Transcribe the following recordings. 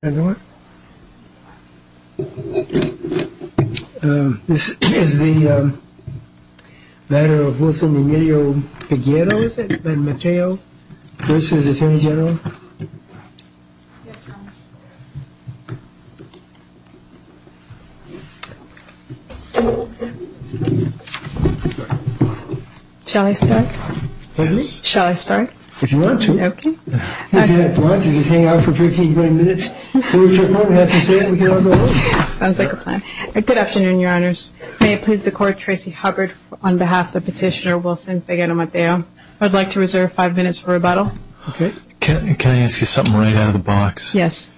This is the matter of Wilson Emilio Pagliaro, is it? Ben Mateo, USA's Attorney General. Shall I start? If you want to. Sounds like a plan. Good afternoon, your honors. May it please the court, Tracy Hubbard on behalf of Petitioner Wilson Pagliaro Mateo. I'd like to reserve five minutes for rebuttal. Okay. Can I ask you something right out of the box? Yes.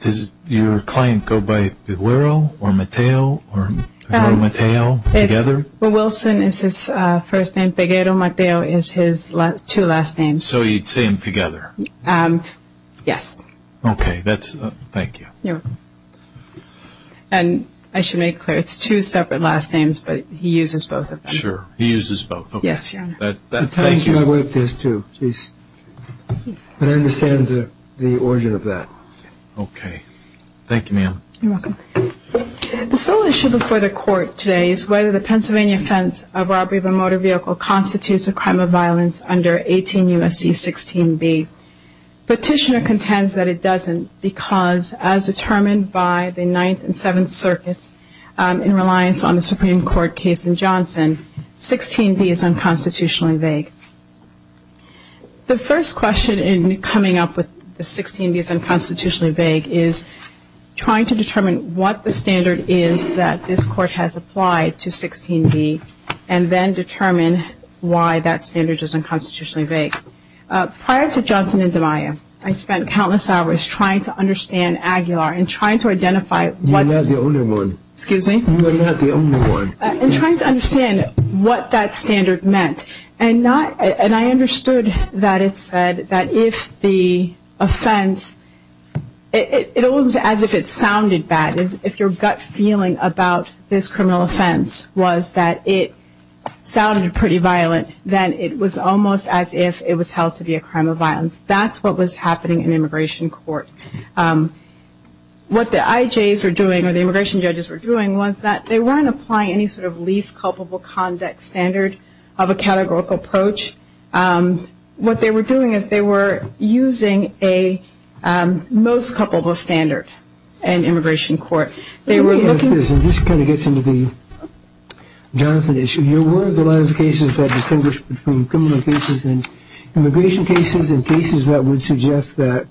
Does your client go by Pagliaro or Mateo or Mateo together? Well, Wilson is his first name, Pagliaro Mateo is his two last names. So you'd say them together? Yes. Okay. Thank you. You're welcome. And I should make clear, it's two separate last names, but he uses both of them. Sure. He uses both. Yes, your honor. Thank you. But I understand the origin of that. Okay. Thank you, ma'am. You're welcome. The sole issue before the court today is whether the Pennsylvania offense of robbery of a motor vehicle constitutes a crime of violence under 18 U.S.C. 16B. Petitioner contends that it doesn't because as determined by the Ninth and Seventh Circuits in reliance on the Supreme Court case in Johnson, 16B is unconstitutionally vague. The first question in coming up with the 16B is unconstitutionally vague is trying to determine what the standard is that this court has applied to 16B and then determine why that standard is unconstitutionally vague. Prior to Johnson and DiMaio, I spent countless hours trying to understand Aguilar and trying to identify what... You're not the only one. Excuse me? You're not the only one. And trying to understand what that standard meant. And not... And I understood that it said that if the offense... It almost as if it sounded bad. If your gut feeling about this criminal offense was that it sounded pretty violent, then it was almost as if it was held to be a crime of violence. That's what was happening in immigration court. What the IJs were doing or the immigration judges were doing was that they weren't applying any sort of least culpable conduct standard of a categorical approach. What they were doing is they were using a most culpable standard in immigration court. They were looking... Let me ask this, and this kind of gets into the Johnson issue. You're aware of the line of cases that distinguish between criminal cases and immigration cases and cases that would suggest that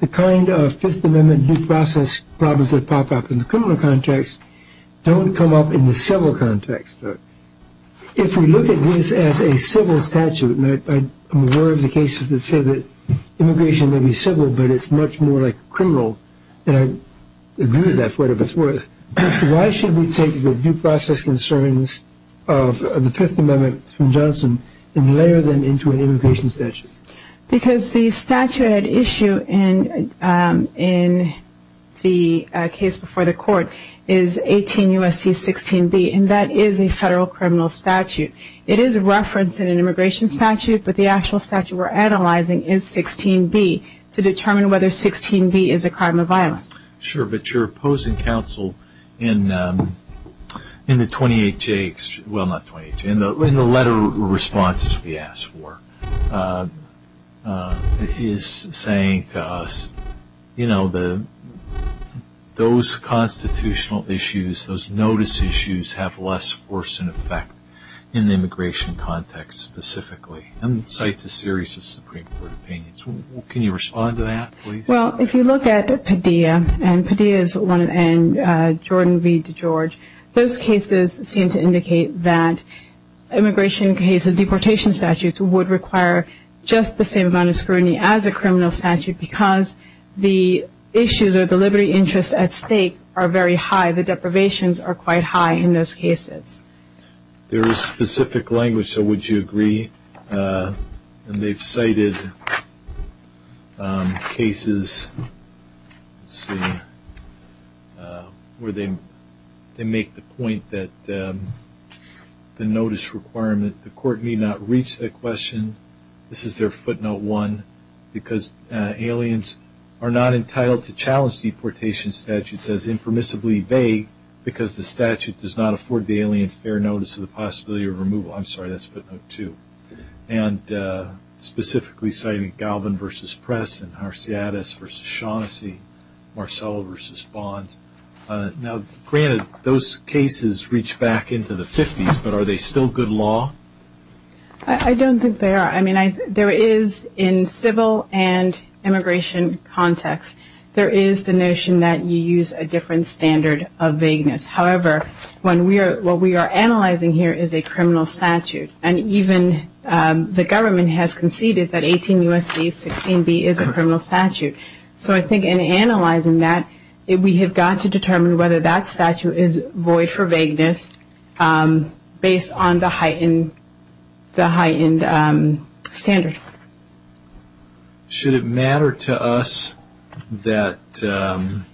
the kind of Fifth Amendment due process problems that pop up in the criminal context don't come up in the civil context. If we look at this as a civil statute, and I'm aware of the cases that say that immigration may be civil but it's much more like criminal, and I agree with that for whatever it's worth, why should we take the due process concerns of the Fifth Amendment from Johnson and layer them into an immigration statute? Because the statute at issue in the case before the court is 18 U.S.C. 16B, and that is a federal criminal statute. It is referenced in an immigration statute, but the actual statute we're analyzing is 16B to determine whether 16B is a crime of violence. Sure, but you're opposing counsel in the 28J... Well, not 28J. In the letter responses we asked for, he is saying to us, you know, those constitutional issues, those notice issues have less force and effect in the immigration context specifically, and cites a series of Supreme Court opinions. Can you respond to that, please? Well, if you look at Padilla, and Jordan V. DeGeorge, those cases seem to indicate that immigration cases, deportation statutes, would require just the same amount of scrutiny as a criminal statute because the issues or the liberty interests at stake are very high. The deprivations are quite high in those cases. There is specific language, so would you agree? And they've cited cases, let's see, where they make the point that the notice requirement, the court may not reach that question. This is their footnote one, because aliens are not entitled to challenge deportation statutes as impermissibly vague because the statute does not afford the alien fair notice of the possibility of removal. I'm sorry, that's footnote two. And specifically citing Galvin v. Press and Harciades v. Shaughnessy, Marcello v. Bonds. Now, granted, those cases reach back into the 50s, but are they still good law? I don't think they are. I mean, there is in civil and immigration context, there is the notion that you use a different standard of vagueness. However, what we are analyzing here is a criminal statute, and even the government has conceded that 18 U.S.C. 16B is a criminal statute. So I think in analyzing that, we have got to determine whether that statute is void for vagueness based on the heightened standards. Should it matter to us that the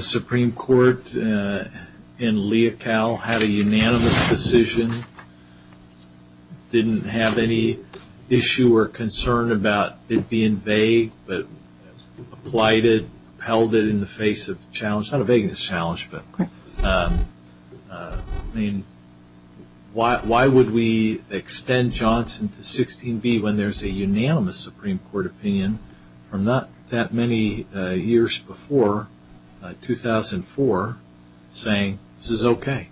Supreme Court in Leocal had a unanimous decision, didn't have any issue or concern about it being vague, but applied it, upheld it in the face of challenge, not a vagueness challenge, but I mean, why would we extend Johnson to 16B when there is a unanimous Supreme Court opinion from not that many years before, 2004, saying this is okay?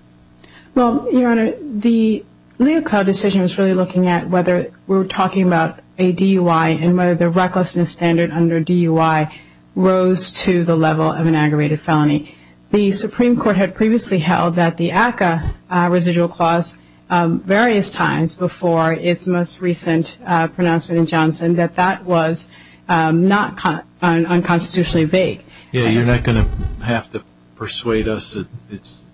Well, Your Honor, the Leocal decision is really looking at whether we are talking about a DUI and whether the recklessness standard under DUI rose to the level of an aggravated felony. The Supreme Court had previously held that the ACCA residual clause, various times before its most recent pronouncement in Johnson, that that was not unconstitutionally vague. Yeah, you are not going to have to persuade us that it is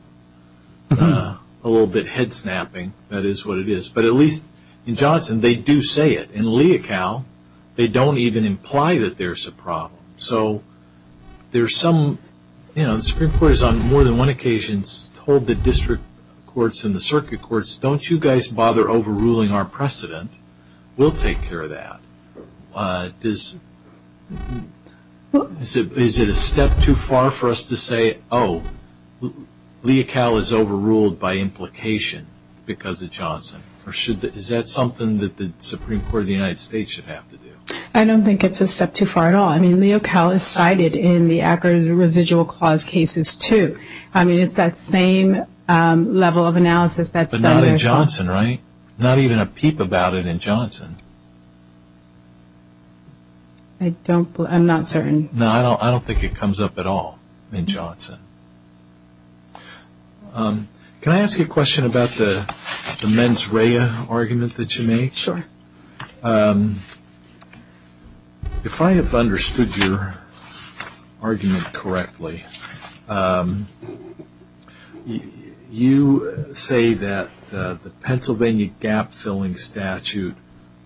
a little bit head-snapping. That is what it is. But at least in Johnson, they do say it. In Leocal, they don't even imply that there is a problem. So the Supreme Court has on more than one occasion told the district courts and the circuit courts, don't you guys bother overruling our precedent. We will take care of that. Is it a step too far for us to say, oh, Leocal is overruled by implication because of Johnson? Is that something that the Supreme Court of the United States should have to do? I don't think it is a step too far at all. I mean, Leocal is cited in the ACCA residual clause cases too. I mean, it is that same level of analysis. But not in Johnson, right? Not even a peep about it in Johnson. I am not certain. No, I don't think it comes up at all in Johnson. Can I ask you a question about the mens rea argument that you make? Sure. If I have understood your argument correctly, you say that the Pennsylvania gap-filling statute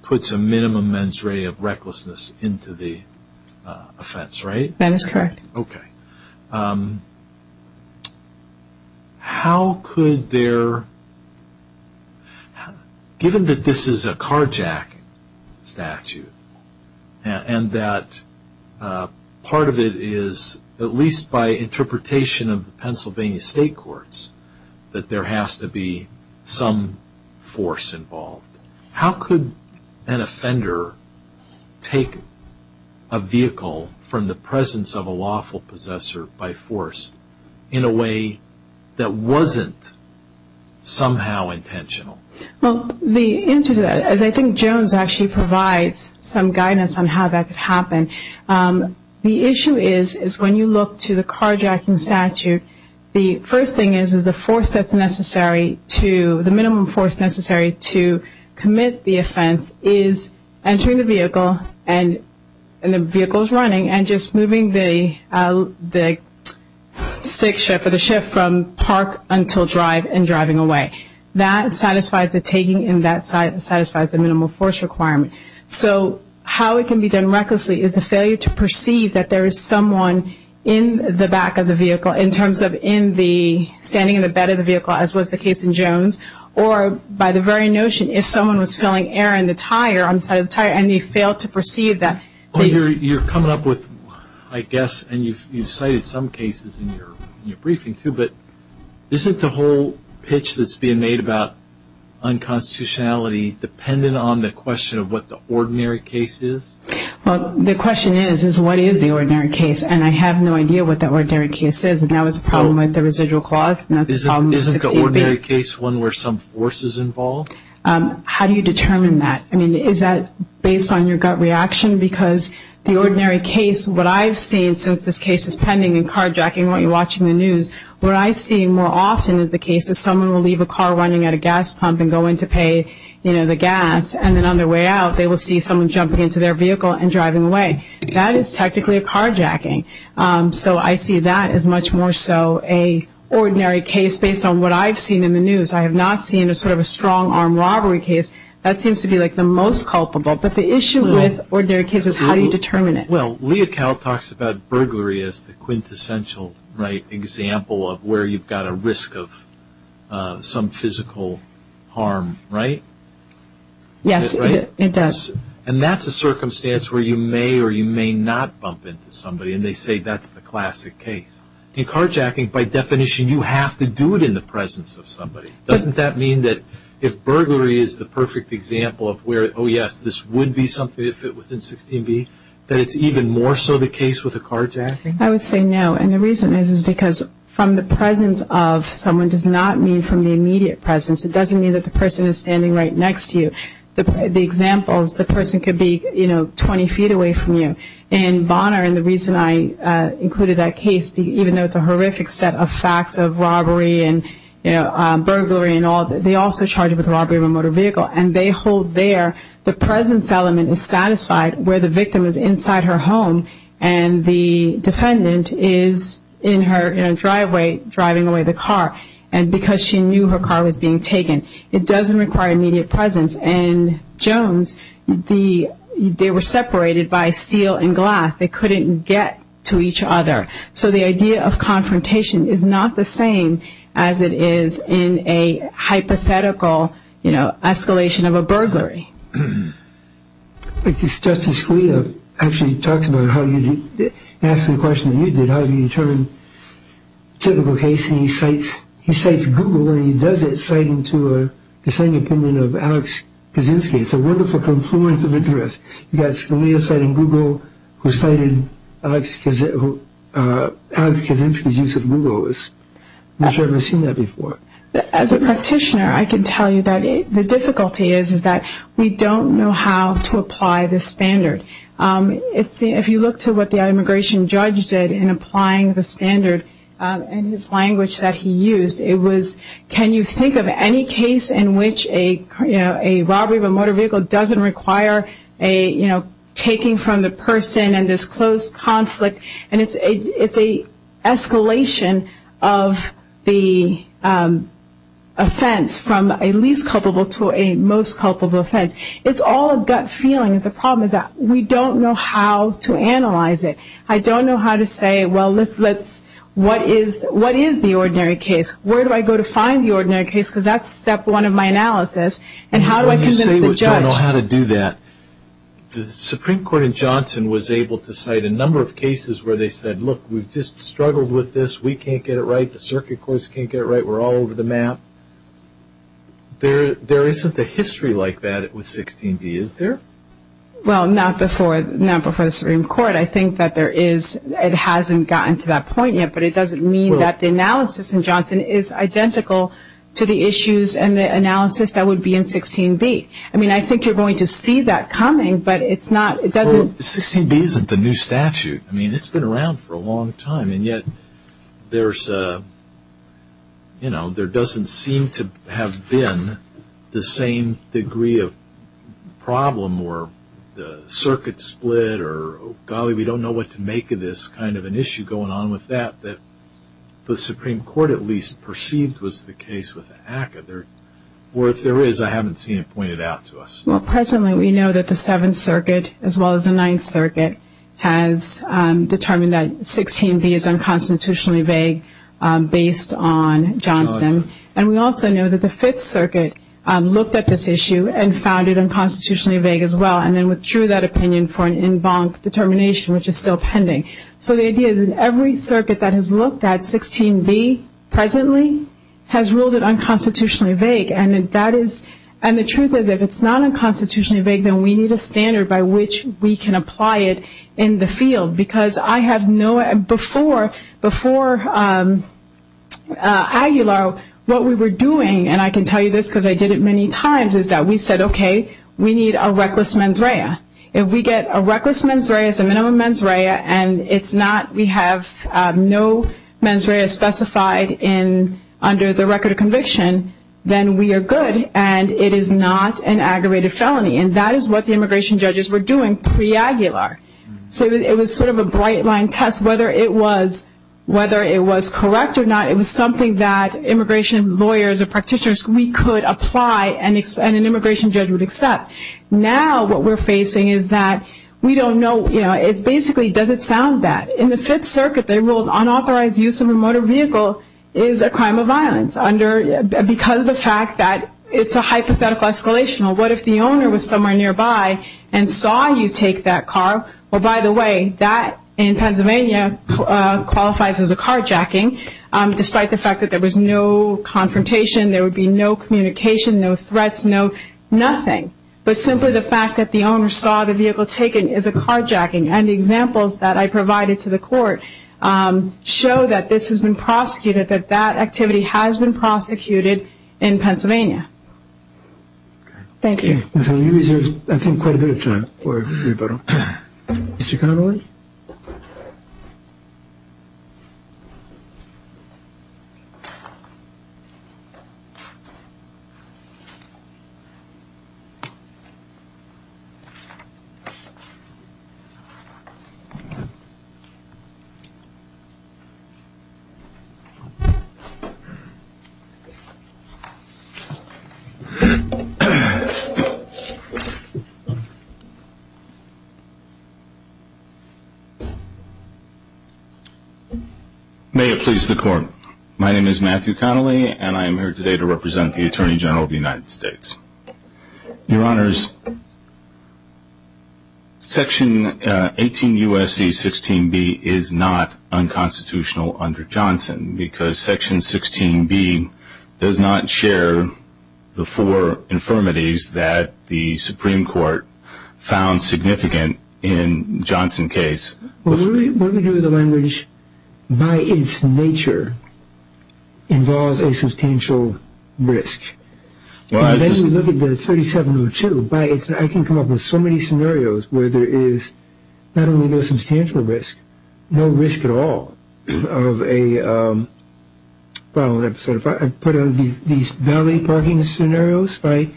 puts a minimum mens rea of recklessness into the offense, right? Okay. Given that this is a carjack statute, and that part of it is, at least by interpretation of the Pennsylvania state courts, that there has to be some force involved, how could an offender take a vehicle from the presence of a lawful possessor by force in a way that wasn't somehow intentional? Well, the answer to that is I think Jones actually provides some guidance on how that could happen. The issue is when you look to the carjacking statute, the first thing is the force that's necessary to, the minimum force necessary to commit the offense is entering the vehicle, and the vehicle is running, and just moving the stick shift or the shift from park until drive and driving away. That satisfies the taking and that satisfies the minimum force requirement. So how it can be done recklessly is the failure to perceive that there is someone in the back of the vehicle in terms of in the, standing in the bed of the vehicle as was the case in Jones, or by the very notion if someone was filling air in the tire, on the side of the tire, and they failed to perceive that. You're coming up with, I guess, and you've cited some cases in your briefing too, but isn't the whole pitch that's being made about unconstitutionality dependent on the question of what the ordinary case is? Well, the question is, is what is the ordinary case? And I have no idea what the ordinary case is, and that was a problem with the residual clause, and that's a problem with 16B. Isn't the ordinary case one where some force is involved? How do you determine that? I mean, is that based on your gut reaction? Because the ordinary case, what I've seen, since this case is pending and carjacking when you're watching the news, what I see more often is the case that someone will leave a car running at a gas pump and go in to pay, you know, the gas, and then on their way out, they will see someone jumping into their vehicle and driving away. That is technically a carjacking. So I see that as much more so a ordinary case based on what I've seen in the news. I have not seen a sort of a strong-arm robbery case. That seems to be, like, the most culpable. But the issue with ordinary cases, how do you determine it? Well, Leah Kell talks about burglary as the quintessential, right, example of where you've got a risk of some physical harm, right? Yes, it does. And that's a circumstance where you may or you may not bump into somebody, and they say that's the classic case. In carjacking, by definition, you have to do it in the presence of somebody. Doesn't that mean that if burglary is the perfect example of where, oh, yes, this would be something that would fit within 16b, that it's even more so the case with a carjacking? I would say no. And the reason is because from the presence of someone does not mean from the immediate presence. It doesn't mean that the person is standing right next to you. The examples, the person could be, you know, 20 feet away from you. In Bonner, and the reason I included that case, even though it's a horrific set of facts of robbery and, you know, burglary and all, they also charge it with robbery of a motor vehicle. And they hold there the presence element is satisfied where the victim is inside her home and the defendant is in her driveway driving away the car. And because she knew her car was being taken, it doesn't require immediate presence. And Jones, they were separated by steel and glass. They couldn't get to each other. So the idea of confrontation is not the same as it is in a hypothetical, you know, escalation of a burglary. Justice Scalia actually talks about how you ask the question that you did, how do you determine a typical case? And he cites Google and he does it citing to an opinion of Alex Kaczynski. It's a wonderful confluence of interests. You've got Scalia citing Google who cited Alex Kaczynski's use of Google. I'm not sure I've ever seen that before. As a practitioner, I can tell you that the difficulty is, is that we don't know how to apply this standard. And his language that he used, it was can you think of any case in which a, you know, a robbery of a motor vehicle doesn't require a, you know, taking from the person and this close conflict. And it's a escalation of the offense from a least culpable to a most culpable offense. It's all a gut feeling. The problem is that we don't know how to analyze it. I don't know how to say, well, let's, what is the ordinary case? Where do I go to find the ordinary case? Because that's step one of my analysis. And how do I convince the judge? When you say you don't know how to do that, the Supreme Court in Johnson was able to cite a number of cases where they said, look, we've just struggled with this. We can't get it right. The circuit courts can't get it right. We're all over the map. There isn't a history like that with 16B, is there? Well, not before the Supreme Court. I think that there is. It hasn't gotten to that point yet. But it doesn't mean that the analysis in Johnson is identical to the issues and the analysis that would be in 16B. I mean, I think you're going to see that coming. But it's not, it doesn't. Well, 16B isn't the new statute. I mean, it's been around for a long time. And yet there's, you know, there doesn't seem to have been the same degree of problem where the Supreme Court at least perceived was the case with ACCA. Or if there is, I haven't seen it pointed out to us. Well, presently we know that the Seventh Circuit, as well as the Ninth Circuit, has determined that 16B is unconstitutionally vague based on Johnson. And we also know that the Fifth Circuit looked at this issue and found it unconstitutionally vague as well and then withdrew that opinion for an en banc determination, which is still pending. So the idea is that every circuit that has looked at 16B presently has ruled it unconstitutionally vague. And that is, and the truth is if it's not unconstitutionally vague, then we need a standard by which we can apply it in the field. Because I have no, before Aguilar what we were doing, and I can tell you this because I did it many times, is that we said, okay, we need a reckless mens rea. If we get a reckless mens rea, it's a minimum mens rea, and it's not, we have no mens rea specified in, under the record of conviction, then we are good. And it is not an aggravated felony. And that is what the immigration judges were doing pre-Aguilar. So it was sort of a bright line test. Whether it was correct or not, it was something that immigration lawyers or practitioners, we could apply and an immigration judge would accept. Now what we're facing is that we don't know, you know, it's basically does it sound bad. In the Fifth Circuit they ruled unauthorized use of a motor vehicle is a crime of violence because of the fact that it's a hypothetical escalation. What if the owner was somewhere nearby and saw you take that car? Well, by the way, that in Pennsylvania qualifies as a carjacking, despite the fact that there was no confrontation, there would be no communication, no threats, no nothing. But simply the fact that the owner saw the vehicle taken is a carjacking. And the examples that I provided to the court show that this has been prosecuted, that that activity has been prosecuted in Pennsylvania. Thank you. I think quite a bit of time for rebuttal. May it please the Court. My name is Matthew Connolly, and I am here today to represent the Attorney General of the United States. Your Honors, Section 18 U.S.C. 16B is not unconstitutional under Johnson because Section 16B does not share the four infirmities that the Supreme Court found significant in Johnson's case. What we do with the language, by its nature, involves a substantial risk. If you look at the 3702, I can come up with so many scenarios where there is not only no substantial risk, but no risk at all. I put out these valet parking scenarios. If I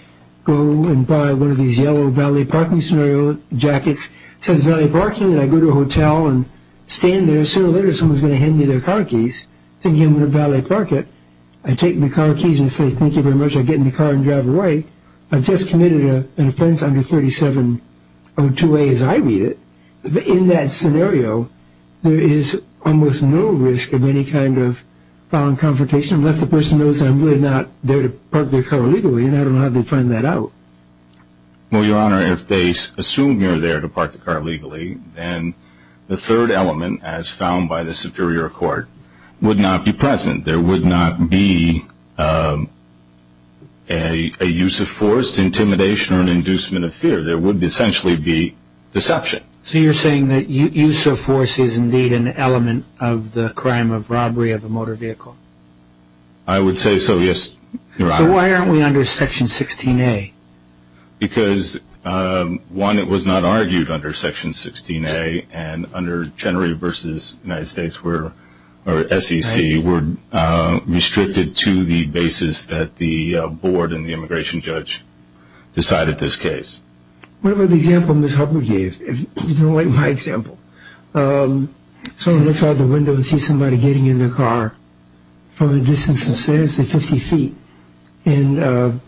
go and buy one of these yellow valet parking scenario jackets, it says valet parking, and I go to a hotel and stand there. Sooner or later someone is going to hand me their car keys, thinking I'm going to valet park it. I take the car keys and say thank you very much. I get in the car and drive away. I've just committed an offense under 3702A as I read it. In that scenario, there is almost no risk of any kind of violent confrontation unless the person knows that I'm really not there to park their car legally, and I don't know how they'd find that out. Well, Your Honor, if they assume you're there to park the car legally, then the third element, as found by the Superior Court, would not be present. There would not be a use of force, intimidation, or an inducement of fear. There would essentially be deception. So you're saying that use of force is indeed an element of the crime of robbery of a motor vehicle? I would say so, yes, Your Honor. So why aren't we under Section 16A? Because, one, it was not argued under Section 16A, and under General versus United States, or SEC, were restricted to the basis that the board and the immigration judge decided this case. What about the example Ms. Hubbard gave? If you don't like my example, someone looks out the window and sees somebody getting in their car from a distance of, say, 50 feet and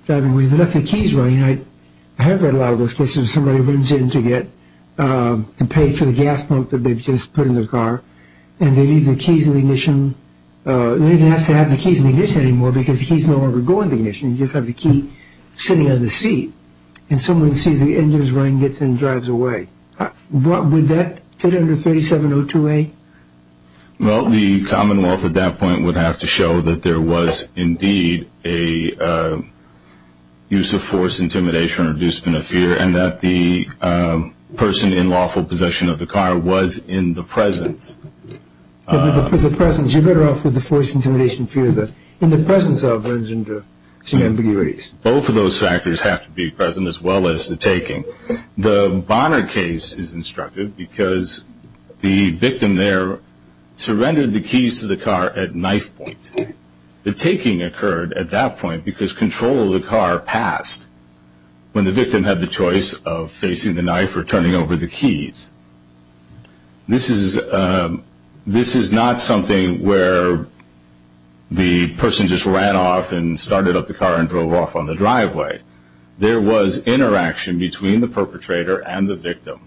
driving away. They left their keys running. I have read a lot of those cases where somebody runs in to pay for the gas pump that they've just put in their car, and they leave the keys in the ignition. They don't even have to have the keys in the ignition anymore because the keys no longer go in the ignition. You just have the key sitting on the seat. And someone sees the engine is running, gets in, and drives away. Would that fit under 3702A? Well, the Commonwealth at that point would have to show that there was indeed a use of force, intimidation, or reducement of fear, and that the person in lawful possession of the car was in the presence. In the presence. You're better off with the force, intimidation, and fear. In the presence of runs into some ambiguities. Both of those factors have to be present as well as the taking. The Bonner case is instructive because the victim there surrendered the keys to the car at knife point. The taking occurred at that point because control of the car passed when the victim had the choice of facing the knife or turning over the keys. This is not something where the person just ran off and started up the car and drove off on the driveway. There was interaction between the perpetrator and the victim.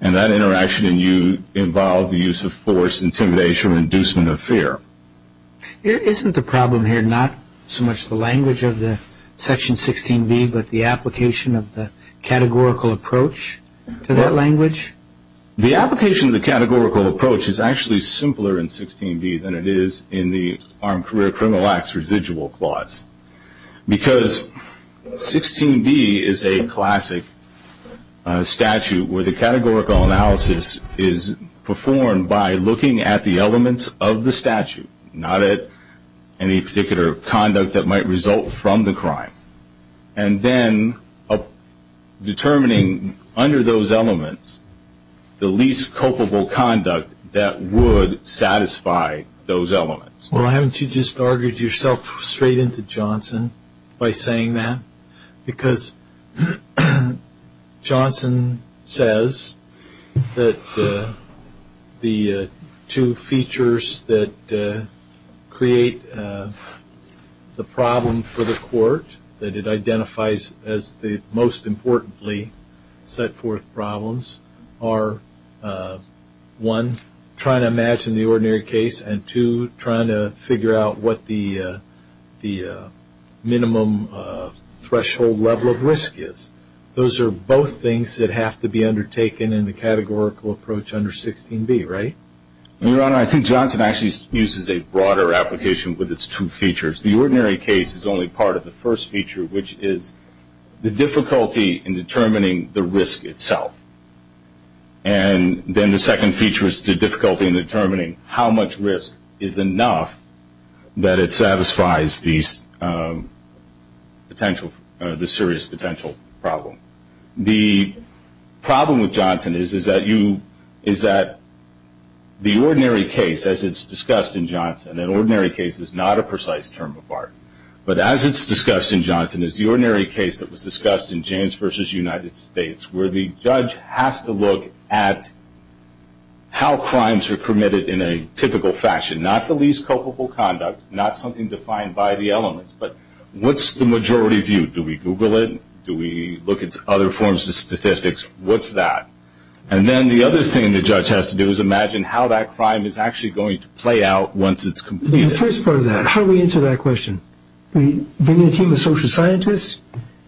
And that interaction involved the use of force, intimidation, and reducement of fear. Isn't the problem here not so much the language of the Section 16B but the application of the categorical approach to that language? The application of the categorical approach is actually simpler in 16B than it is in the Armed Career Criminal Act's residual clause. Because 16B is a classic statute where the categorical analysis is performed by looking at the elements of the statute, not at any particular conduct that might result from the crime. And then determining under those elements the least culpable conduct that would satisfy those elements. Well, haven't you just argued yourself straight into Johnson by saying that? Because Johnson says that the two features that create the problem for the court, that it identifies as the most importantly set forth problems, are one, trying to imagine the ordinary case, and two, trying to figure out what the minimum threshold level of risk is. Those are both things that have to be undertaken in the categorical approach under 16B, right? Your Honor, I think Johnson actually uses a broader application with its two features. The ordinary case is only part of the first feature, which is the difficulty in determining the risk itself. And then the second feature is the difficulty in determining how much risk is enough that it satisfies the serious potential problem. The problem with Johnson is that the ordinary case, as it's discussed in Johnson, and ordinary case is not a precise term of art, but as it's discussed in Johnson is the ordinary case that was discussed in James v. United States where the judge has to look at how crimes are committed in a typical fashion, not the least culpable conduct, not something defined by the elements. But what's the majority view? Do we Google it? Do we look at other forms of statistics? What's that? And then the other thing the judge has to do is imagine how that crime is actually going to play out once it's completed. The first part of that, how do we answer that question? Do we bring in a team of social scientists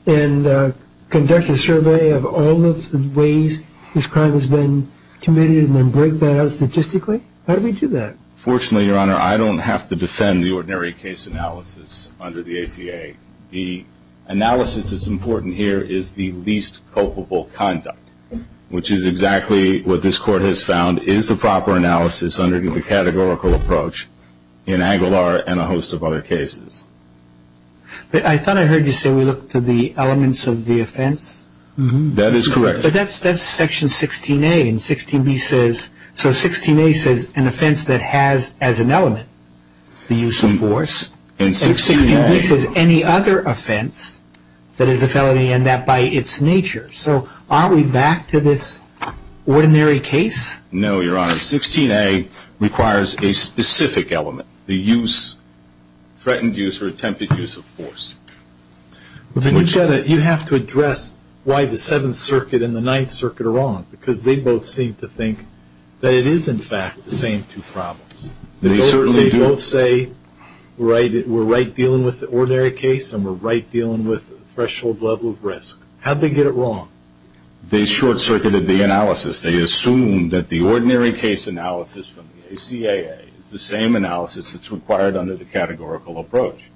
and conduct a survey of all of the ways this crime has been committed and then break that out statistically? How do we do that? Fortunately, Your Honor, I don't have to defend the ordinary case analysis under the ACA. The analysis that's important here is the least culpable conduct, which is exactly what this Court has found is the proper analysis under the categorical approach in Aguilar and a host of other cases. I thought I heard you say we look to the elements of the offense. That is correct. But that's Section 16A. So 16A says an offense that has as an element the use of force. And 16B says any other offense that is a felony and that by its nature. So aren't we back to this ordinary case? No, Your Honor. 16A requires a specific element, the threatened use or attempted use of force. You have to address why the Seventh Circuit and the Ninth Circuit are wrong because they both seem to think that it is, in fact, the same two problems. They certainly do. They both say we're right dealing with the ordinary case and we're right dealing with the threshold level of risk. How did they get it wrong? They short-circuited the analysis. They assumed that the ordinary case analysis from the ACAA is the same analysis that's required under the categorical approach.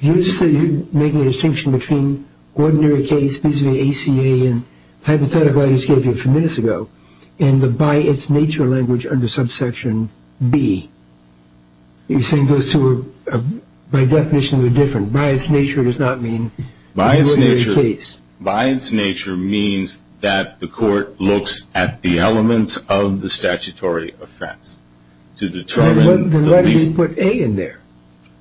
You say you're making a distinction between ordinary case, basically ACAA and hypothetical I just gave you a few minutes ago, and the by its nature language under subsection B. You're saying those two by definition are different. By its nature does not mean the ordinary case. By its nature means that the court looks at the elements of the statutory offense to determine the least. Why did you put A in there?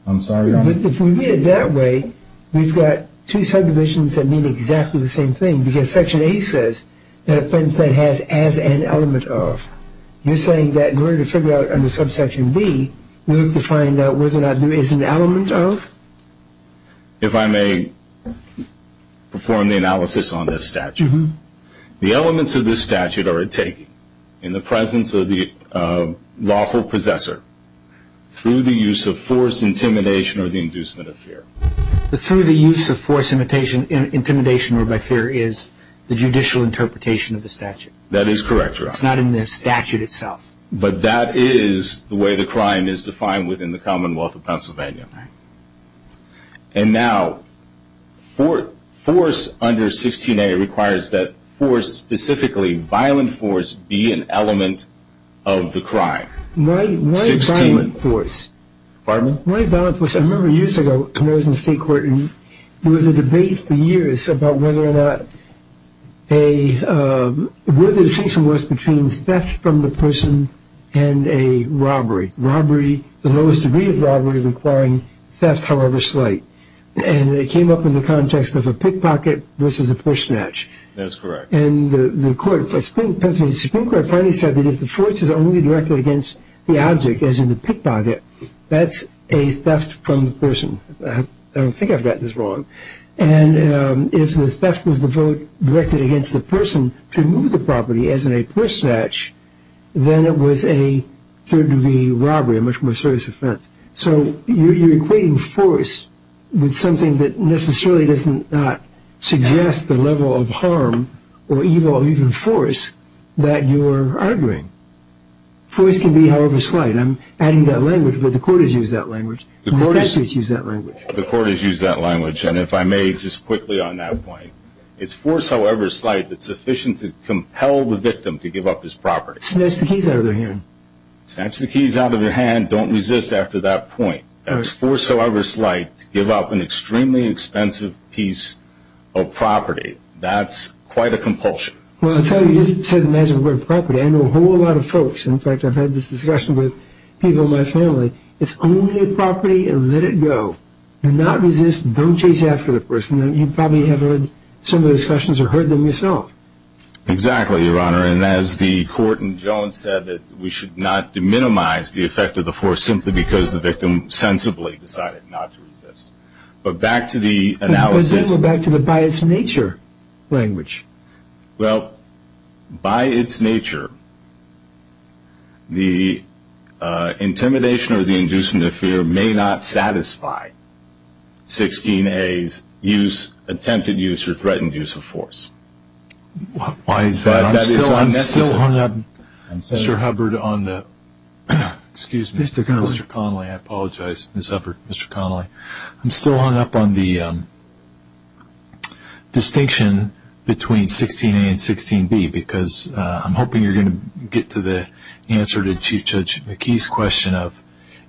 I'm sorry, Your Honor. If we read it that way, we've got two subdivisions that mean exactly the same thing because section A says an offense that has as an element of. You're saying that in order to figure out under subsection B, we have to find out whether or not there is an element of? If I may perform the analysis on this statute, the elements of this statute are a taking in the presence of the lawful possessor through the use of force, intimidation, or the inducement of fear. The through the use of force, intimidation, or by fear is the judicial interpretation of the statute. That is correct, Your Honor. It's not in the statute itself. But that is the way the crime is defined within the Commonwealth of Pennsylvania. And now force under 16A requires that force, specifically violent force, be an element of the crime. Why violent force? Pardon me? Why violent force? I remember years ago when I was in state court, there was a debate for years about whether or not a, where the distinction was between theft from the person and a robbery. Robbery, the lowest degree of robbery requiring theft, however slight. And it came up in the context of a pickpocket versus a push snatch. That's correct. And the court, Pennsylvania Supreme Court, finally said that if the force is only directed against the object, as in the pickpocket, that's a theft from the person. I don't think I've gotten this wrong. And if the theft was the vote directed against the person to move the property, as in a push snatch, then it was a third-degree robbery, a much more serious offense. So you're equating force with something that necessarily does not suggest the level of harm or evil or even force that you're arguing. Force can be however slight. I'm adding that language, but the court has used that language. The statutes use that language. The court has used that language. And if I may just quickly on that point, it's force however slight that's sufficient to compel the victim to give up his property. Snatch the keys out of their hand. Snatch the keys out of their hand. Don't resist after that point. That's force however slight to give up an extremely expensive piece of property. That's quite a compulsion. Well, I'll tell you, you just said the magic word property. I know a whole lot of folks. In fact, I've had this discussion with people in my family. It's only a property and let it go. Do not resist. Don't chase after the person. You probably have heard some of the discussions or heard them yourself. Exactly, Your Honor. And as the court in Jones said, we should not minimize the effect of the force simply because the victim sensibly decided not to resist. But back to the analysis. Let's go back to the by-its-nature language. Well, by its nature, the intimidation or the inducement of fear may not satisfy 16A's use, attempted use, or threatened use of force. Why is that? I'm still hung up, Mr. Hubbard, on the, excuse me, Mr. Connolly. I apologize, Mr. Hubbard, Mr. Connolly. I'm still hung up on the distinction between 16A and 16B because I'm hoping you're going to get to the answer to Chief Judge McKee's question of,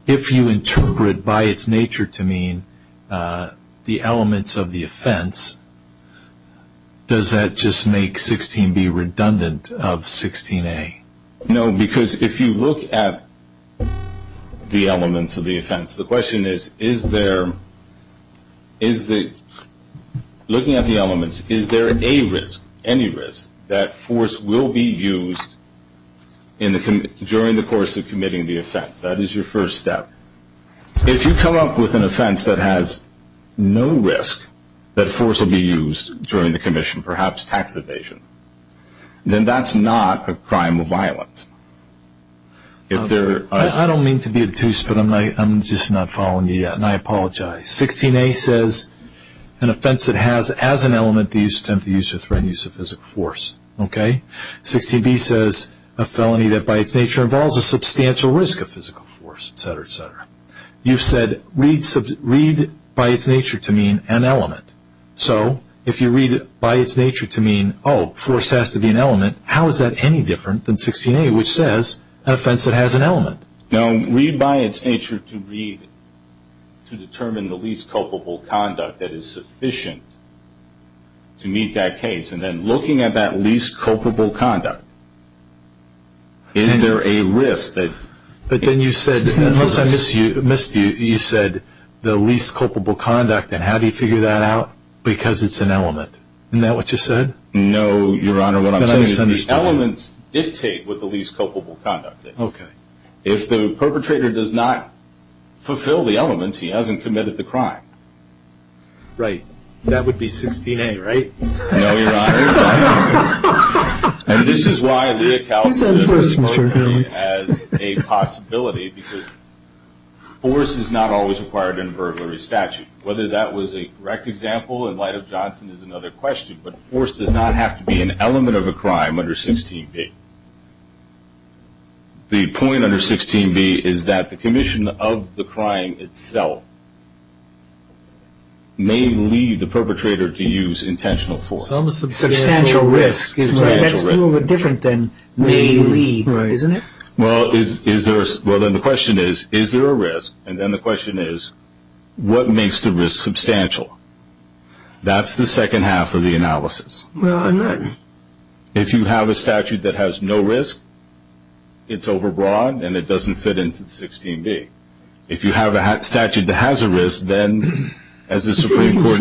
if you interpret by its nature to mean the elements of the offense, does that just make 16B redundant of 16A? No, because if you look at the elements of the offense, the question is, is there, looking at the elements, is there a risk, any risk that force will be used during the course of committing the offense? That is your first step. If you come up with an offense that has no risk that force will be used during the commission, perhaps tax evasion, then that's not a crime of violence. I don't mean to be obtuse, but I'm just not following you yet, and I apologize. 16A says an offense that has as an element the use, attempted use, or threatened use of physical force. 16B says a felony that by its nature involves a substantial risk of physical force, et cetera, et cetera. You said read by its nature to mean an element. So if you read by its nature to mean, oh, force has to be an element, how is that any different than 16A, which says an offense that has an element? No, read by its nature to determine the least culpable conduct that is sufficient to meet that case, and then looking at that least culpable conduct, is there a risk that it's an element? But then you said, unless I missed you, you said the least culpable conduct, and how do you figure that out? Because it's an element. Isn't that what you said? No, Your Honor, what I'm saying is the elements dictate what the least culpable conduct is. Okay. If the perpetrator does not fulfill the elements, he hasn't committed the crime. Right. That would be 16A, right? No, Your Honor. And this is why we account for this as a possibility, because force is not always required in a burglary statute. Whether that was a correct example in light of Johnson is another question, but force does not have to be an element of a crime under 16B. The point under 16B is that the commission of the crime itself may lead the perpetrator to use intentional force. Substantial risk. That's a little bit different than may lead, isn't it? Well, then the question is, is there a risk? And then the question is, what makes the risk substantial? That's the second half of the analysis. Well, I'm not – If you have a statute that has no risk, it's overbroad and it doesn't fit into 16B. If you have a statute that has a risk, then as the Supreme Court –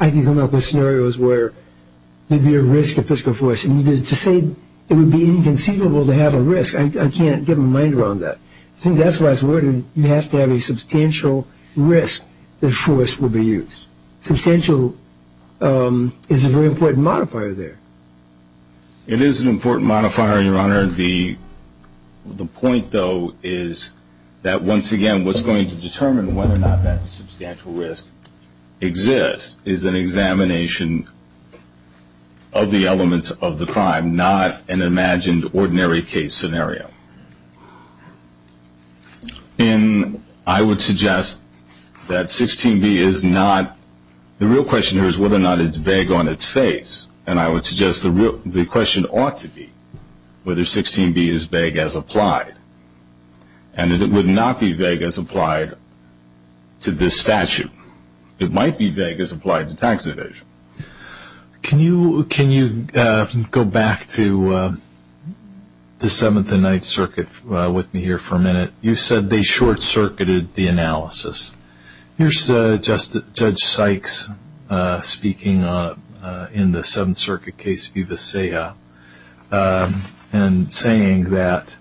I can come up with scenarios where there'd be a risk of fiscal force, and to say it would be inconceivable to have a risk, I can't get my mind around that. I think that's why it's worded, you have to have a substantial risk that force will be used. Substantial is a very important modifier there. It is an important modifier, Your Honor. The point, though, is that, once again, what's going to determine whether or not that substantial risk exists is an examination of the elements of the crime, not an imagined ordinary case scenario. And I would suggest that 16B is not – the real question here is whether or not it's vague on its face. And I would suggest the question ought to be whether 16B is vague as applied, and that it would not be vague as applied to this statute. It might be vague as applied to tax evasion. Can you go back to the Seventh and Ninth Circuit with me here for a minute? You said they short-circuited the analysis. Here's Judge Sykes speaking in the Seventh Circuit case of Uvicea and saying that,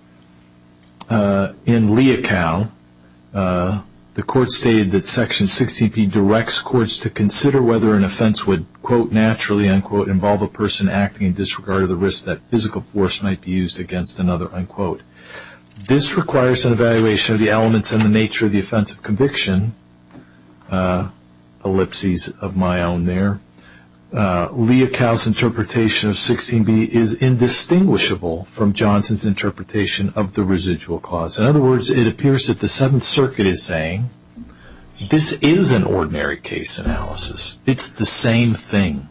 in Leocal, the court stated that Section 16B directs courts to consider whether an offense would, quote, naturally, unquote, involve a person acting in disregard of the risk that physical force might be used against another, This requires an evaluation of the elements and the nature of the offense of conviction. Ellipses of my own there. Leocal's interpretation of 16B is indistinguishable from Johnson's interpretation of the residual clause. In other words, it appears that the Seventh Circuit is saying, this is an ordinary case analysis. It's the same thing.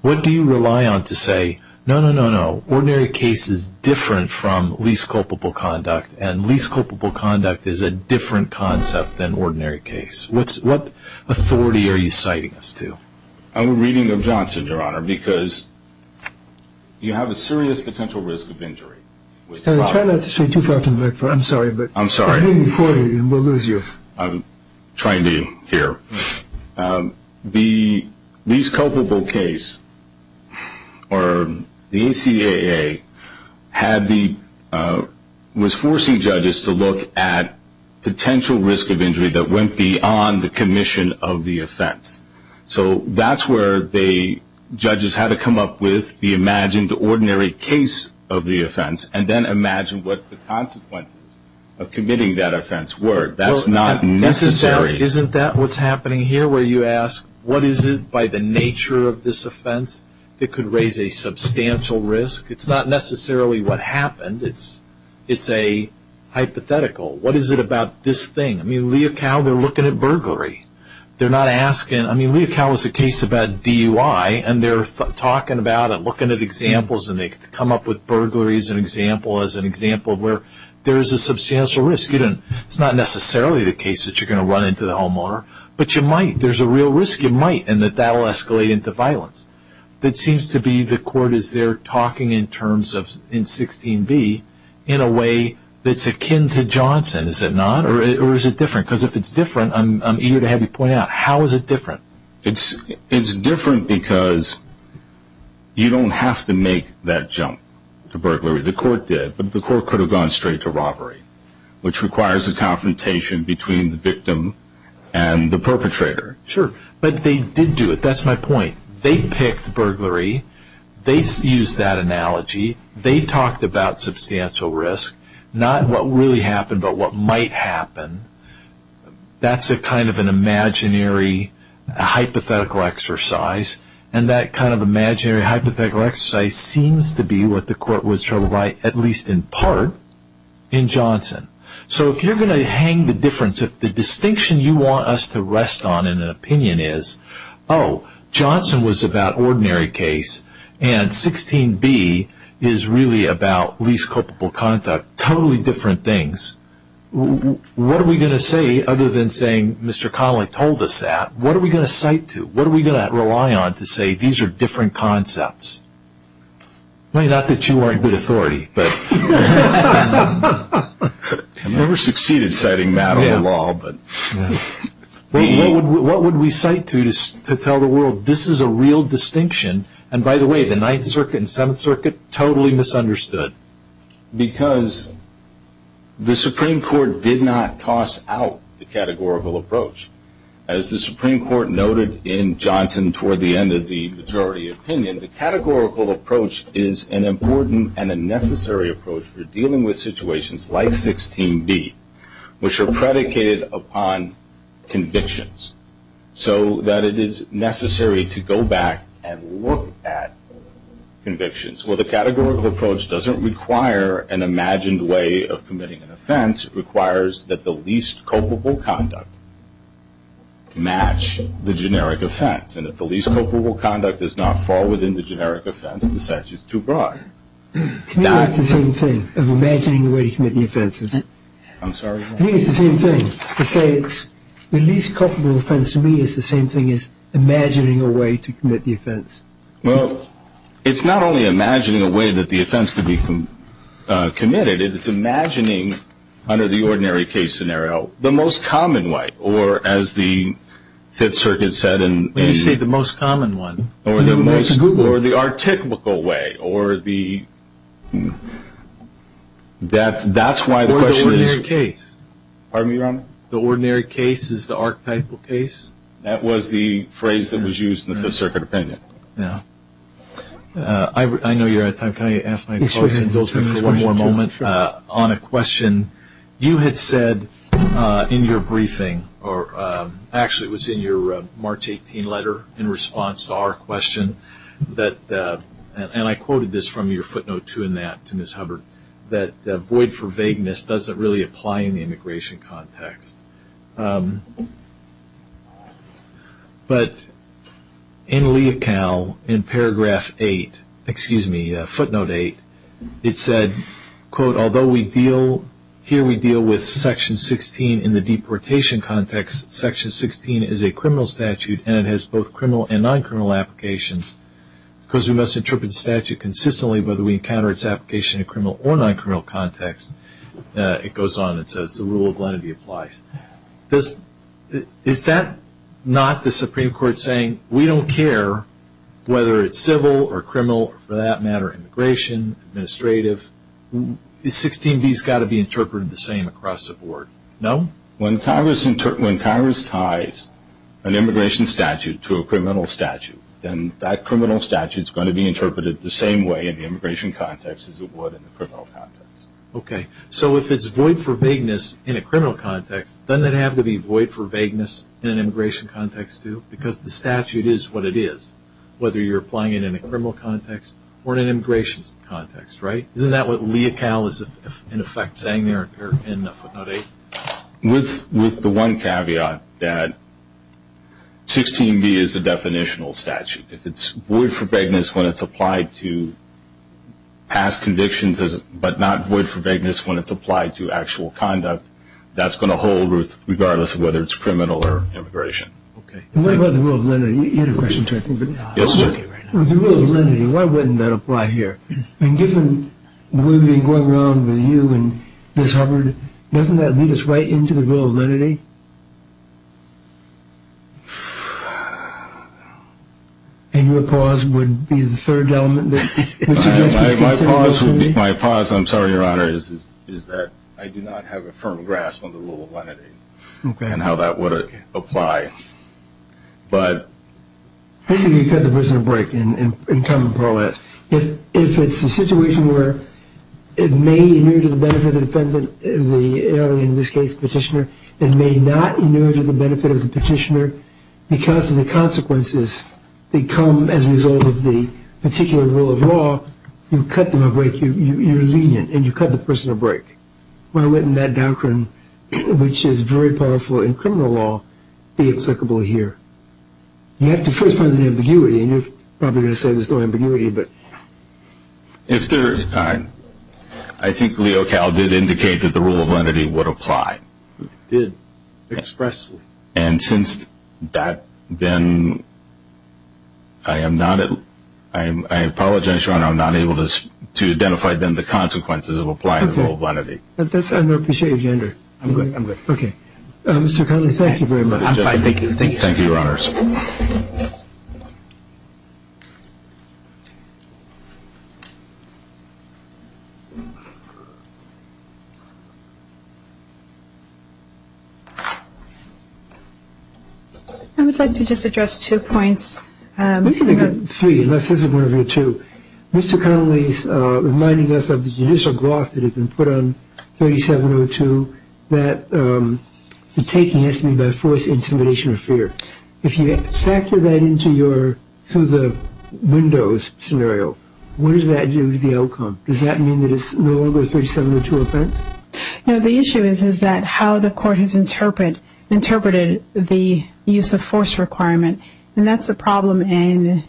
What do you rely on to say, no, no, no, no, ordinary case is different from least culpable conduct, and least culpable conduct is a different concept than ordinary case? What authority are you citing us to? I'm reading of Johnson, Your Honor, because you have a serious potential risk of injury. Try not to say too far from the microphone. I'm sorry, but it's being recorded and we'll lose you. I'm trying to hear. The least culpable case, or the ACAA, was forcing judges to look at potential risk of injury that went beyond the commission of the offense. So that's where judges had to come up with the imagined ordinary case of the offense and then imagine what the consequences of committing that offense were. That's not necessary. Isn't that what's happening here, where you ask, what is it by the nature of this offense that could raise a substantial risk? It's not necessarily what happened. It's a hypothetical. What is it about this thing? I mean, Leocal, they're looking at burglary. They're not asking. I mean, Leocal is a case about DUI, and they're talking about it, looking at examples, and they come up with burglary as an example, as an example of where there is a substantial risk. It's not necessarily the case that you're going to run into the homeowner, but you might. There's a real risk you might, and that that will escalate into violence. It seems to be the court is there talking in 16b in a way that's akin to Johnson, is it not? Or is it different? Because if it's different, I'm eager to have you point out, how is it different? It's different because you don't have to make that jump to burglary. The court did, but the court could have gone straight to robbery, which requires a confrontation between the victim and the perpetrator. Sure, but they did do it. That's my point. They picked burglary. They used that analogy. They talked about substantial risk, not what really happened, but what might happen. That's a kind of an imaginary hypothetical exercise, and that kind of imaginary hypothetical exercise seems to be what the court was trying to write, at least in part, in Johnson. So if you're going to hang the difference, if the distinction you want us to rest on in an opinion is, oh, Johnson was about ordinary case, and 16b is really about least culpable conduct, totally different things, what are we going to say other than saying Mr. Connelly told us that? What are we going to cite to? What are we going to rely on to say these are different concepts? Not that you aren't good authority, but... I've never succeeded citing matter of the law, but... What would we cite to tell the world this is a real distinction, and by the way, the Ninth Circuit and Seventh Circuit totally misunderstood. Because the Supreme Court did not toss out the categorical approach. As the Supreme Court noted in Johnson toward the end of the majority opinion, the categorical approach is an important and a necessary approach for dealing with situations like 16b, which are predicated upon convictions. So that it is necessary to go back and look at convictions. Well, the categorical approach doesn't require an imagined way of committing an offense. It requires that the least culpable conduct match the generic offense, and if the least culpable conduct does not fall within the generic offense, the sentence is too broad. To me that's the same thing, of imagining a way to commit the offense. I'm sorry? I think it's the same thing. To say it's the least culpable offense to me is the same thing as imagining a way to commit the offense. Well, it's not only imagining a way that the offense could be committed, it's imagining under the ordinary case scenario the most common way, or as the Fifth Circuit said. Let me say the most common one. Or the most, or the articulable way, or the, that's why the question is. Or the ordinary case. Pardon me, Your Honor? The ordinary case is the archetypal case. That was the phrase that was used in the Fifth Circuit opinion. Yeah. I know you're out of time. Can I ask my colleagues indulgence for one more moment on a question? You had said in your briefing, or actually it was in your March 18 letter in response to our question, and I quoted this from your footnote too in that to Ms. Hubbard, that void for vagueness doesn't really apply in the immigration context. But in Lee et al., in Paragraph 8, excuse me, Footnote 8, it said, quote, although we deal, here we deal with Section 16 in the deportation context, Section 16 is a criminal statute and it has both criminal and non-criminal applications. Because we must interpret the statute consistently whether we encounter its application in a criminal or non-criminal context, it goes on and says the rule of lenity applies. Is that not the Supreme Court saying we don't care whether it's civil or criminal, or for that matter immigration, administrative? 16B has got to be interpreted the same across the board. No? When Congress ties an immigration statute to a criminal statute, then that criminal statute is going to be interpreted the same way in the immigration context as it would in the criminal context. Okay. So if it's void for vagueness in a criminal context, doesn't it have to be void for vagueness in an immigration context too? Because the statute is what it is, whether you're applying it in a criminal context or in an immigration context, right? Isn't that what Lee et al. is in effect saying there in Footnote 8? With the one caveat that 16B is a definitional statute. If it's void for vagueness when it's applied to past convictions but not void for vagueness when it's applied to actual conduct, that's going to hold regardless of whether it's criminal or immigration. Okay. What about the rule of lenity? You had a question, too, I think. Yes, sir. The rule of lenity, why wouldn't that apply here? Given the way we've been going around with you and Ms. Hubbard, doesn't that lead us right into the rule of lenity? And your pause would be the third element that suggests we consider the rule of lenity? My pause, I'm sorry, Your Honor, is that I do not have a firm grasp on the rule of lenity and how that would apply. But basically you cut the prisoner break in common parlance. If it's a situation where it may inure to the benefit of the defendant, in this case the petitioner, it may not inure to the benefit of the petitioner because of the consequences that come as a result of the particular rule of law, you cut them a break. You're lenient and you cut the prisoner break. Why wouldn't that doctrine, which is very powerful in criminal law, be applicable here? You have to first find the ambiguity, and you're probably going to say there's no ambiguity. I think Leo Cal did indicate that the rule of lenity would apply. It did expressly. And since that, then I apologize, Your Honor, I'm not able to identify then the consequences of applying the rule of lenity. I appreciate your gender. I'm good. Okay. I'm fine. Thank you. Thank you, Your Honors. I would like to just address two points. Three, unless this is one of your two. Mr. Connolly is reminding us of the judicial gloss that had been put on 3702, that the taking has to be by force, intimidation, or fear. If you factor that into your Windows scenario, what does that do to the outcome? Does that mean that it's no longer a 3702 offense? No, the issue is that how the court has interpreted the use of force requirement, and that's the problem in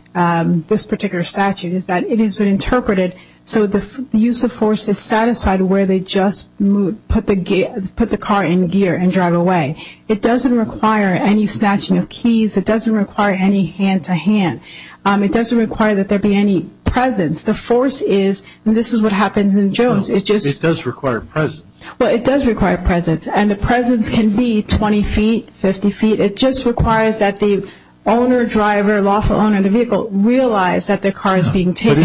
this particular statute is that it has been interpreted so the use of force is satisfied where they just put the car in gear and drive away. It doesn't require any snatching of keys. It doesn't require any hand-to-hand. It doesn't require that there be any presence. The force is, and this is what happens in Jones. It does require presence. Well, it does require presence, and the presence can be 20 feet, 50 feet. It just requires that the owner, driver, lawful owner of the vehicle realize that the car is being taken.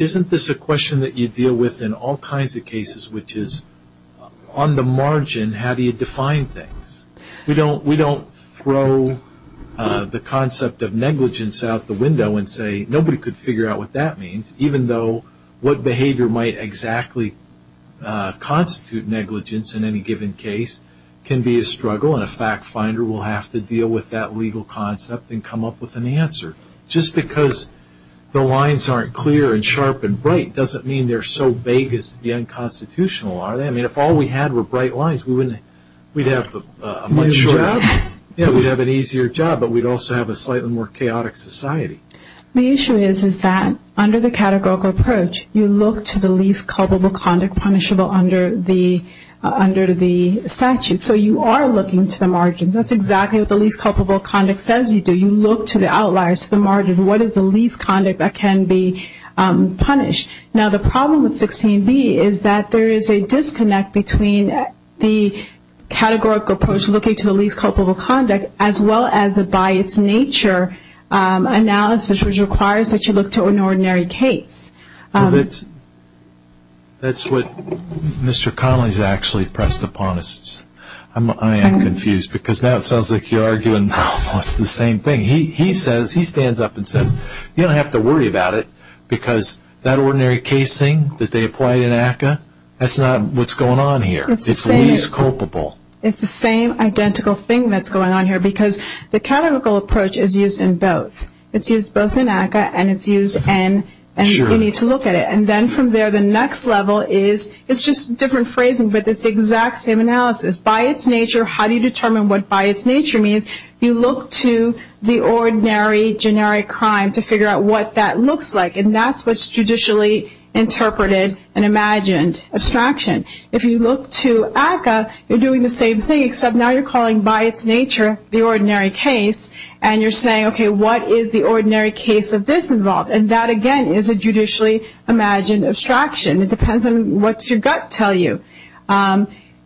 Isn't this a question that you deal with in all kinds of cases, which is on the margin, how do you define things? We don't throw the concept of negligence out the window and say, nobody could figure out what that means, even though what behavior might exactly constitute negligence in any given case can be a struggle, and a fact finder will have to deal with that legal concept and come up with an answer. Just because the lines aren't clear and sharp and bright doesn't mean they're so vague as to be unconstitutional. If all we had were bright lines, we'd have a much easier job, but we'd also have a slightly more chaotic society. The issue is that under the categorical approach, you look to the least culpable conduct punishable under the statute. So you are looking to the margin. That's exactly what the least culpable conduct says you do. You look to the outliers, to the margin. What is the least conduct that can be punished? Now, the problem with 16b is that there is a disconnect between the categorical approach, looking to the least culpable conduct, as well as the by its nature analysis, which requires that you look to an ordinary case. That's what Mr. Connolly has actually pressed upon us. I am confused, because now it sounds like you're arguing almost the same thing. He stands up and says, you don't have to worry about it, because that ordinary casing that they applied in ACCA, that's not what's going on here. It's the least culpable. It's the same identical thing that's going on here, because the categorical approach is used in both. It's used both in ACCA and it's used in, and you need to look at it. Then from there, the next level is, it's just different phrasing, but it's the exact same analysis. By its nature, how do you determine what by its nature means? You look to the ordinary generic crime to figure out what that looks like, and that's what's judicially interpreted and imagined abstraction. If you look to ACCA, you're doing the same thing, except now you're calling by its nature the ordinary case, and you're saying, okay, what is the ordinary case of this involved? And that, again, is a judicially imagined abstraction. It depends on what your gut tells you.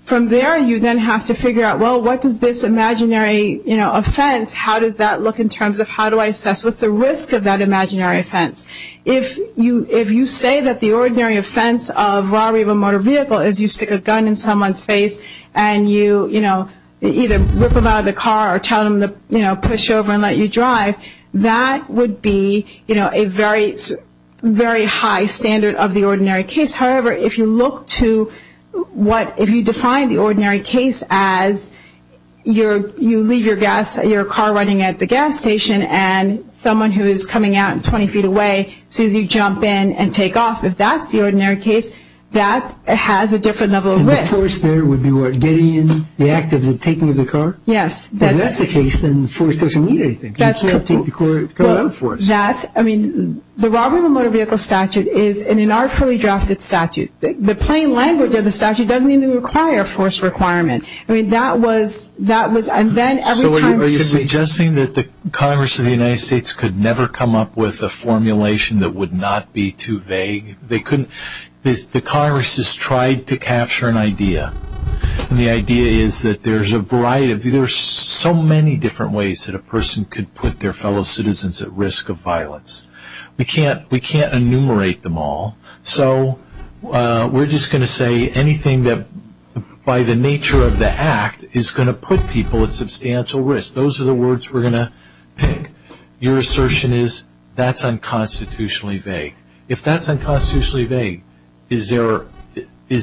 From there, you then have to figure out, well, what does this imaginary offense, how does that look in terms of how do I assess what's the risk of that imaginary offense? If you say that the ordinary offense of robbery of a motor vehicle is you stick a gun in someone's face and you either rip them out of the car or tell them to push over and let you drive, that would be a very high standard of the ordinary case. However, if you define the ordinary case as you leave your car running at the gas station and someone who is coming out 20 feet away, as soon as you jump in and take off, if that's the ordinary case, that has a different level of risk. And the force there would be what, getting in, the act of the taking of the car? Yes. If that's the case, then the force doesn't mean anything. It keeps the car out of force. The robbery of a motor vehicle statute is in an artfully drafted statute. The plain language of the statute doesn't even require a force requirement. Are you suggesting that the Congress of the United States could never come up with a formulation that would not be too vague? The Congress has tried to capture an idea, and the idea is that there's so many different ways that a person could put their fellow citizens at risk of violence. We can't enumerate them all, so we're just going to say anything that, by the nature of the act, is going to put people at substantial risk. Those are the words we're going to pick. Your assertion is that's unconstitutionally vague. If that's unconstitutionally vague, is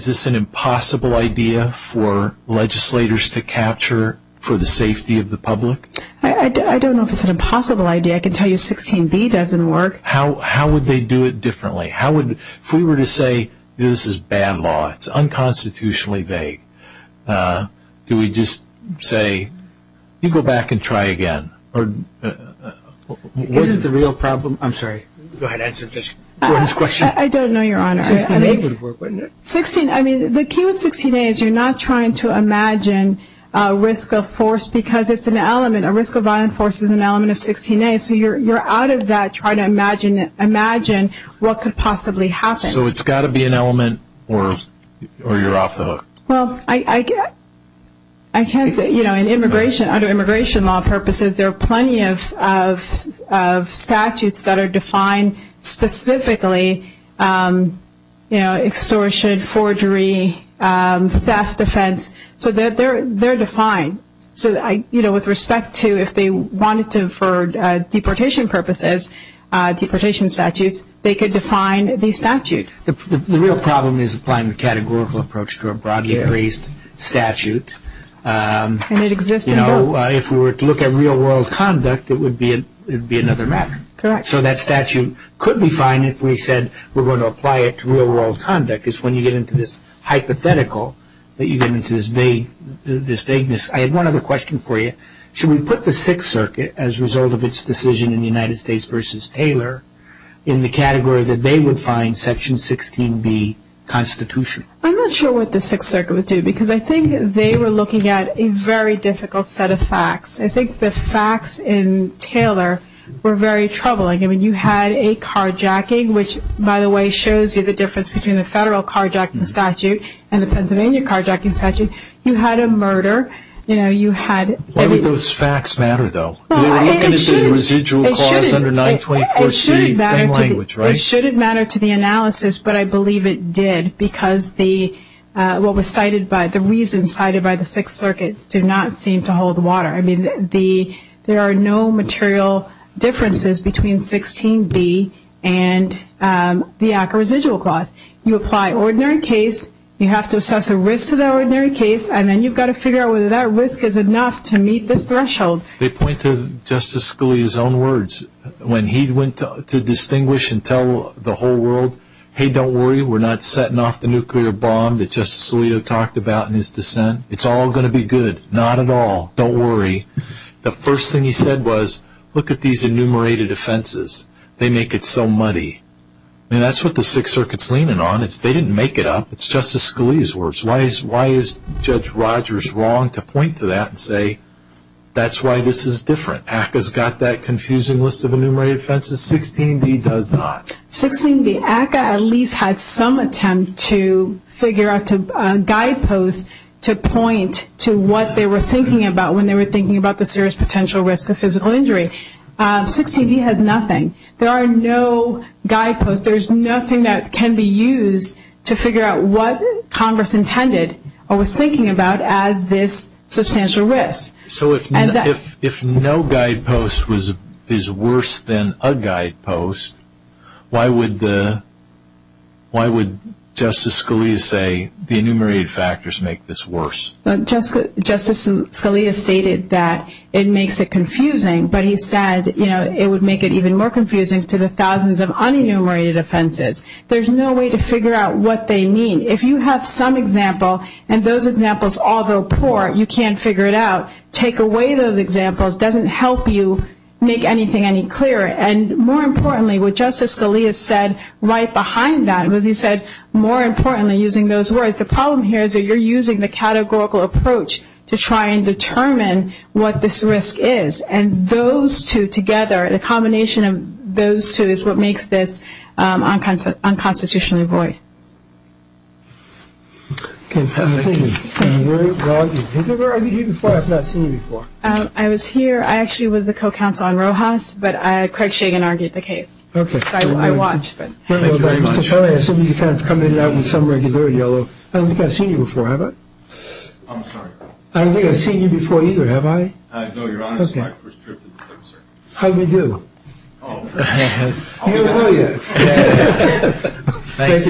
this an impossible idea for legislators to capture for the safety of the public? I don't know if it's an impossible idea. I can tell you 16b doesn't work. How would they do it differently? If we were to say this is bad law, it's unconstitutionally vague, do we just say you go back and try again? Is it the real problem? I'm sorry. Go ahead. Answer Gordon's question. I don't know, Your Honor. The key with 16a is you're not trying to imagine risk of force because it's an element. A risk of violence force is an element of 16a, so you're out of that trying to imagine what could possibly happen. So it's got to be an element or you're off the hook? Well, I can't say. In immigration, under immigration law purposes, there are plenty of statutes that are defined specifically extortion, forgery, theft, defense. So they're defined. So with respect to if they wanted to for deportation purposes, deportation statutes, they could define the statute. The real problem is applying the categorical approach to a broadly phrased statute. And it exists in both. If we were to look at real-world conduct, it would be another matter. Correct. So that statute could be fine if we said we're going to apply it to real-world conduct. It's when you get into this hypothetical that you get into this vagueness. I had one other question for you. Should we put the Sixth Circuit, as a result of its decision in the United States versus Taylor, in the category that they would find Section 16b constitutional? I'm not sure what the Sixth Circuit would do because I think they were looking at a very difficult set of facts. I think the facts in Taylor were very troubling. I mean, you had a carjacking, which, by the way, shows you the difference between the federal carjacking statute and the Pennsylvania carjacking statute. You had a murder. Why would those facts matter, though? They were looking at the residual costs under 924C, same language, right? It shouldn't matter to the analysis, but I believe it did because what was cited by the reason cited by the Sixth Circuit did not seem to hold water. I mean, there are no material differences between 16b and the ACCA residual cost. You apply ordinary case, you have to assess the risk to the ordinary case, and then you've got to figure out whether that risk is enough to meet this threshold. They point to Justice Scalia's own words. When he went to distinguish and tell the whole world, hey, don't worry, we're not setting off the nuclear bomb that Justice Alito talked about in his dissent. It's all going to be good. Not at all. Don't worry. The first thing he said was, look at these enumerated offenses. They make it so muddy. I mean, that's what the Sixth Circuit's leaning on. They didn't make it up. It's Justice Scalia's words. Why is Judge Rogers wrong to point to that and say, that's why this is different? ACCA's got that confusing list of enumerated offenses. 16b does not. 16b, ACCA at least had some attempt to figure out guideposts to point to what they were thinking about when they were thinking about the serious potential risk of physical injury. 16b has nothing. There are no guideposts. There's nothing that can be used to figure out what Congress intended or was thinking about as this substantial risk. So if no guidepost is worse than a guidepost, why would Justice Scalia say the enumerated factors make this worse? Justice Scalia stated that it makes it confusing, but he said it would make it even more confusing to the thousands of unenumerated offenses. There's no way to figure out what they mean. If you have some example and those examples, although poor, you can't figure it out, take away those examples doesn't help you make anything any clearer. And more importantly, what Justice Scalia said right behind that was he said, more importantly, using those words, the problem here is that you're using the categorical approach to try and determine what this risk is. And those two together, the combination of those two is what makes this unconstitutionally void. Thank you. Have you ever argued before? I've not seen you before. I was here. I actually was the co-counsel on Rojas, but Craig Shagan argued the case. So I watched. Thank you very much. I assume you kind of come in and out with some regularity. I don't think I've seen you before, have I? I'm sorry. I don't think I've seen you before either, have I? No, Your Honor. This is my first trip to the court, sir. How do you do? How are you? Thank you very much. Thank you.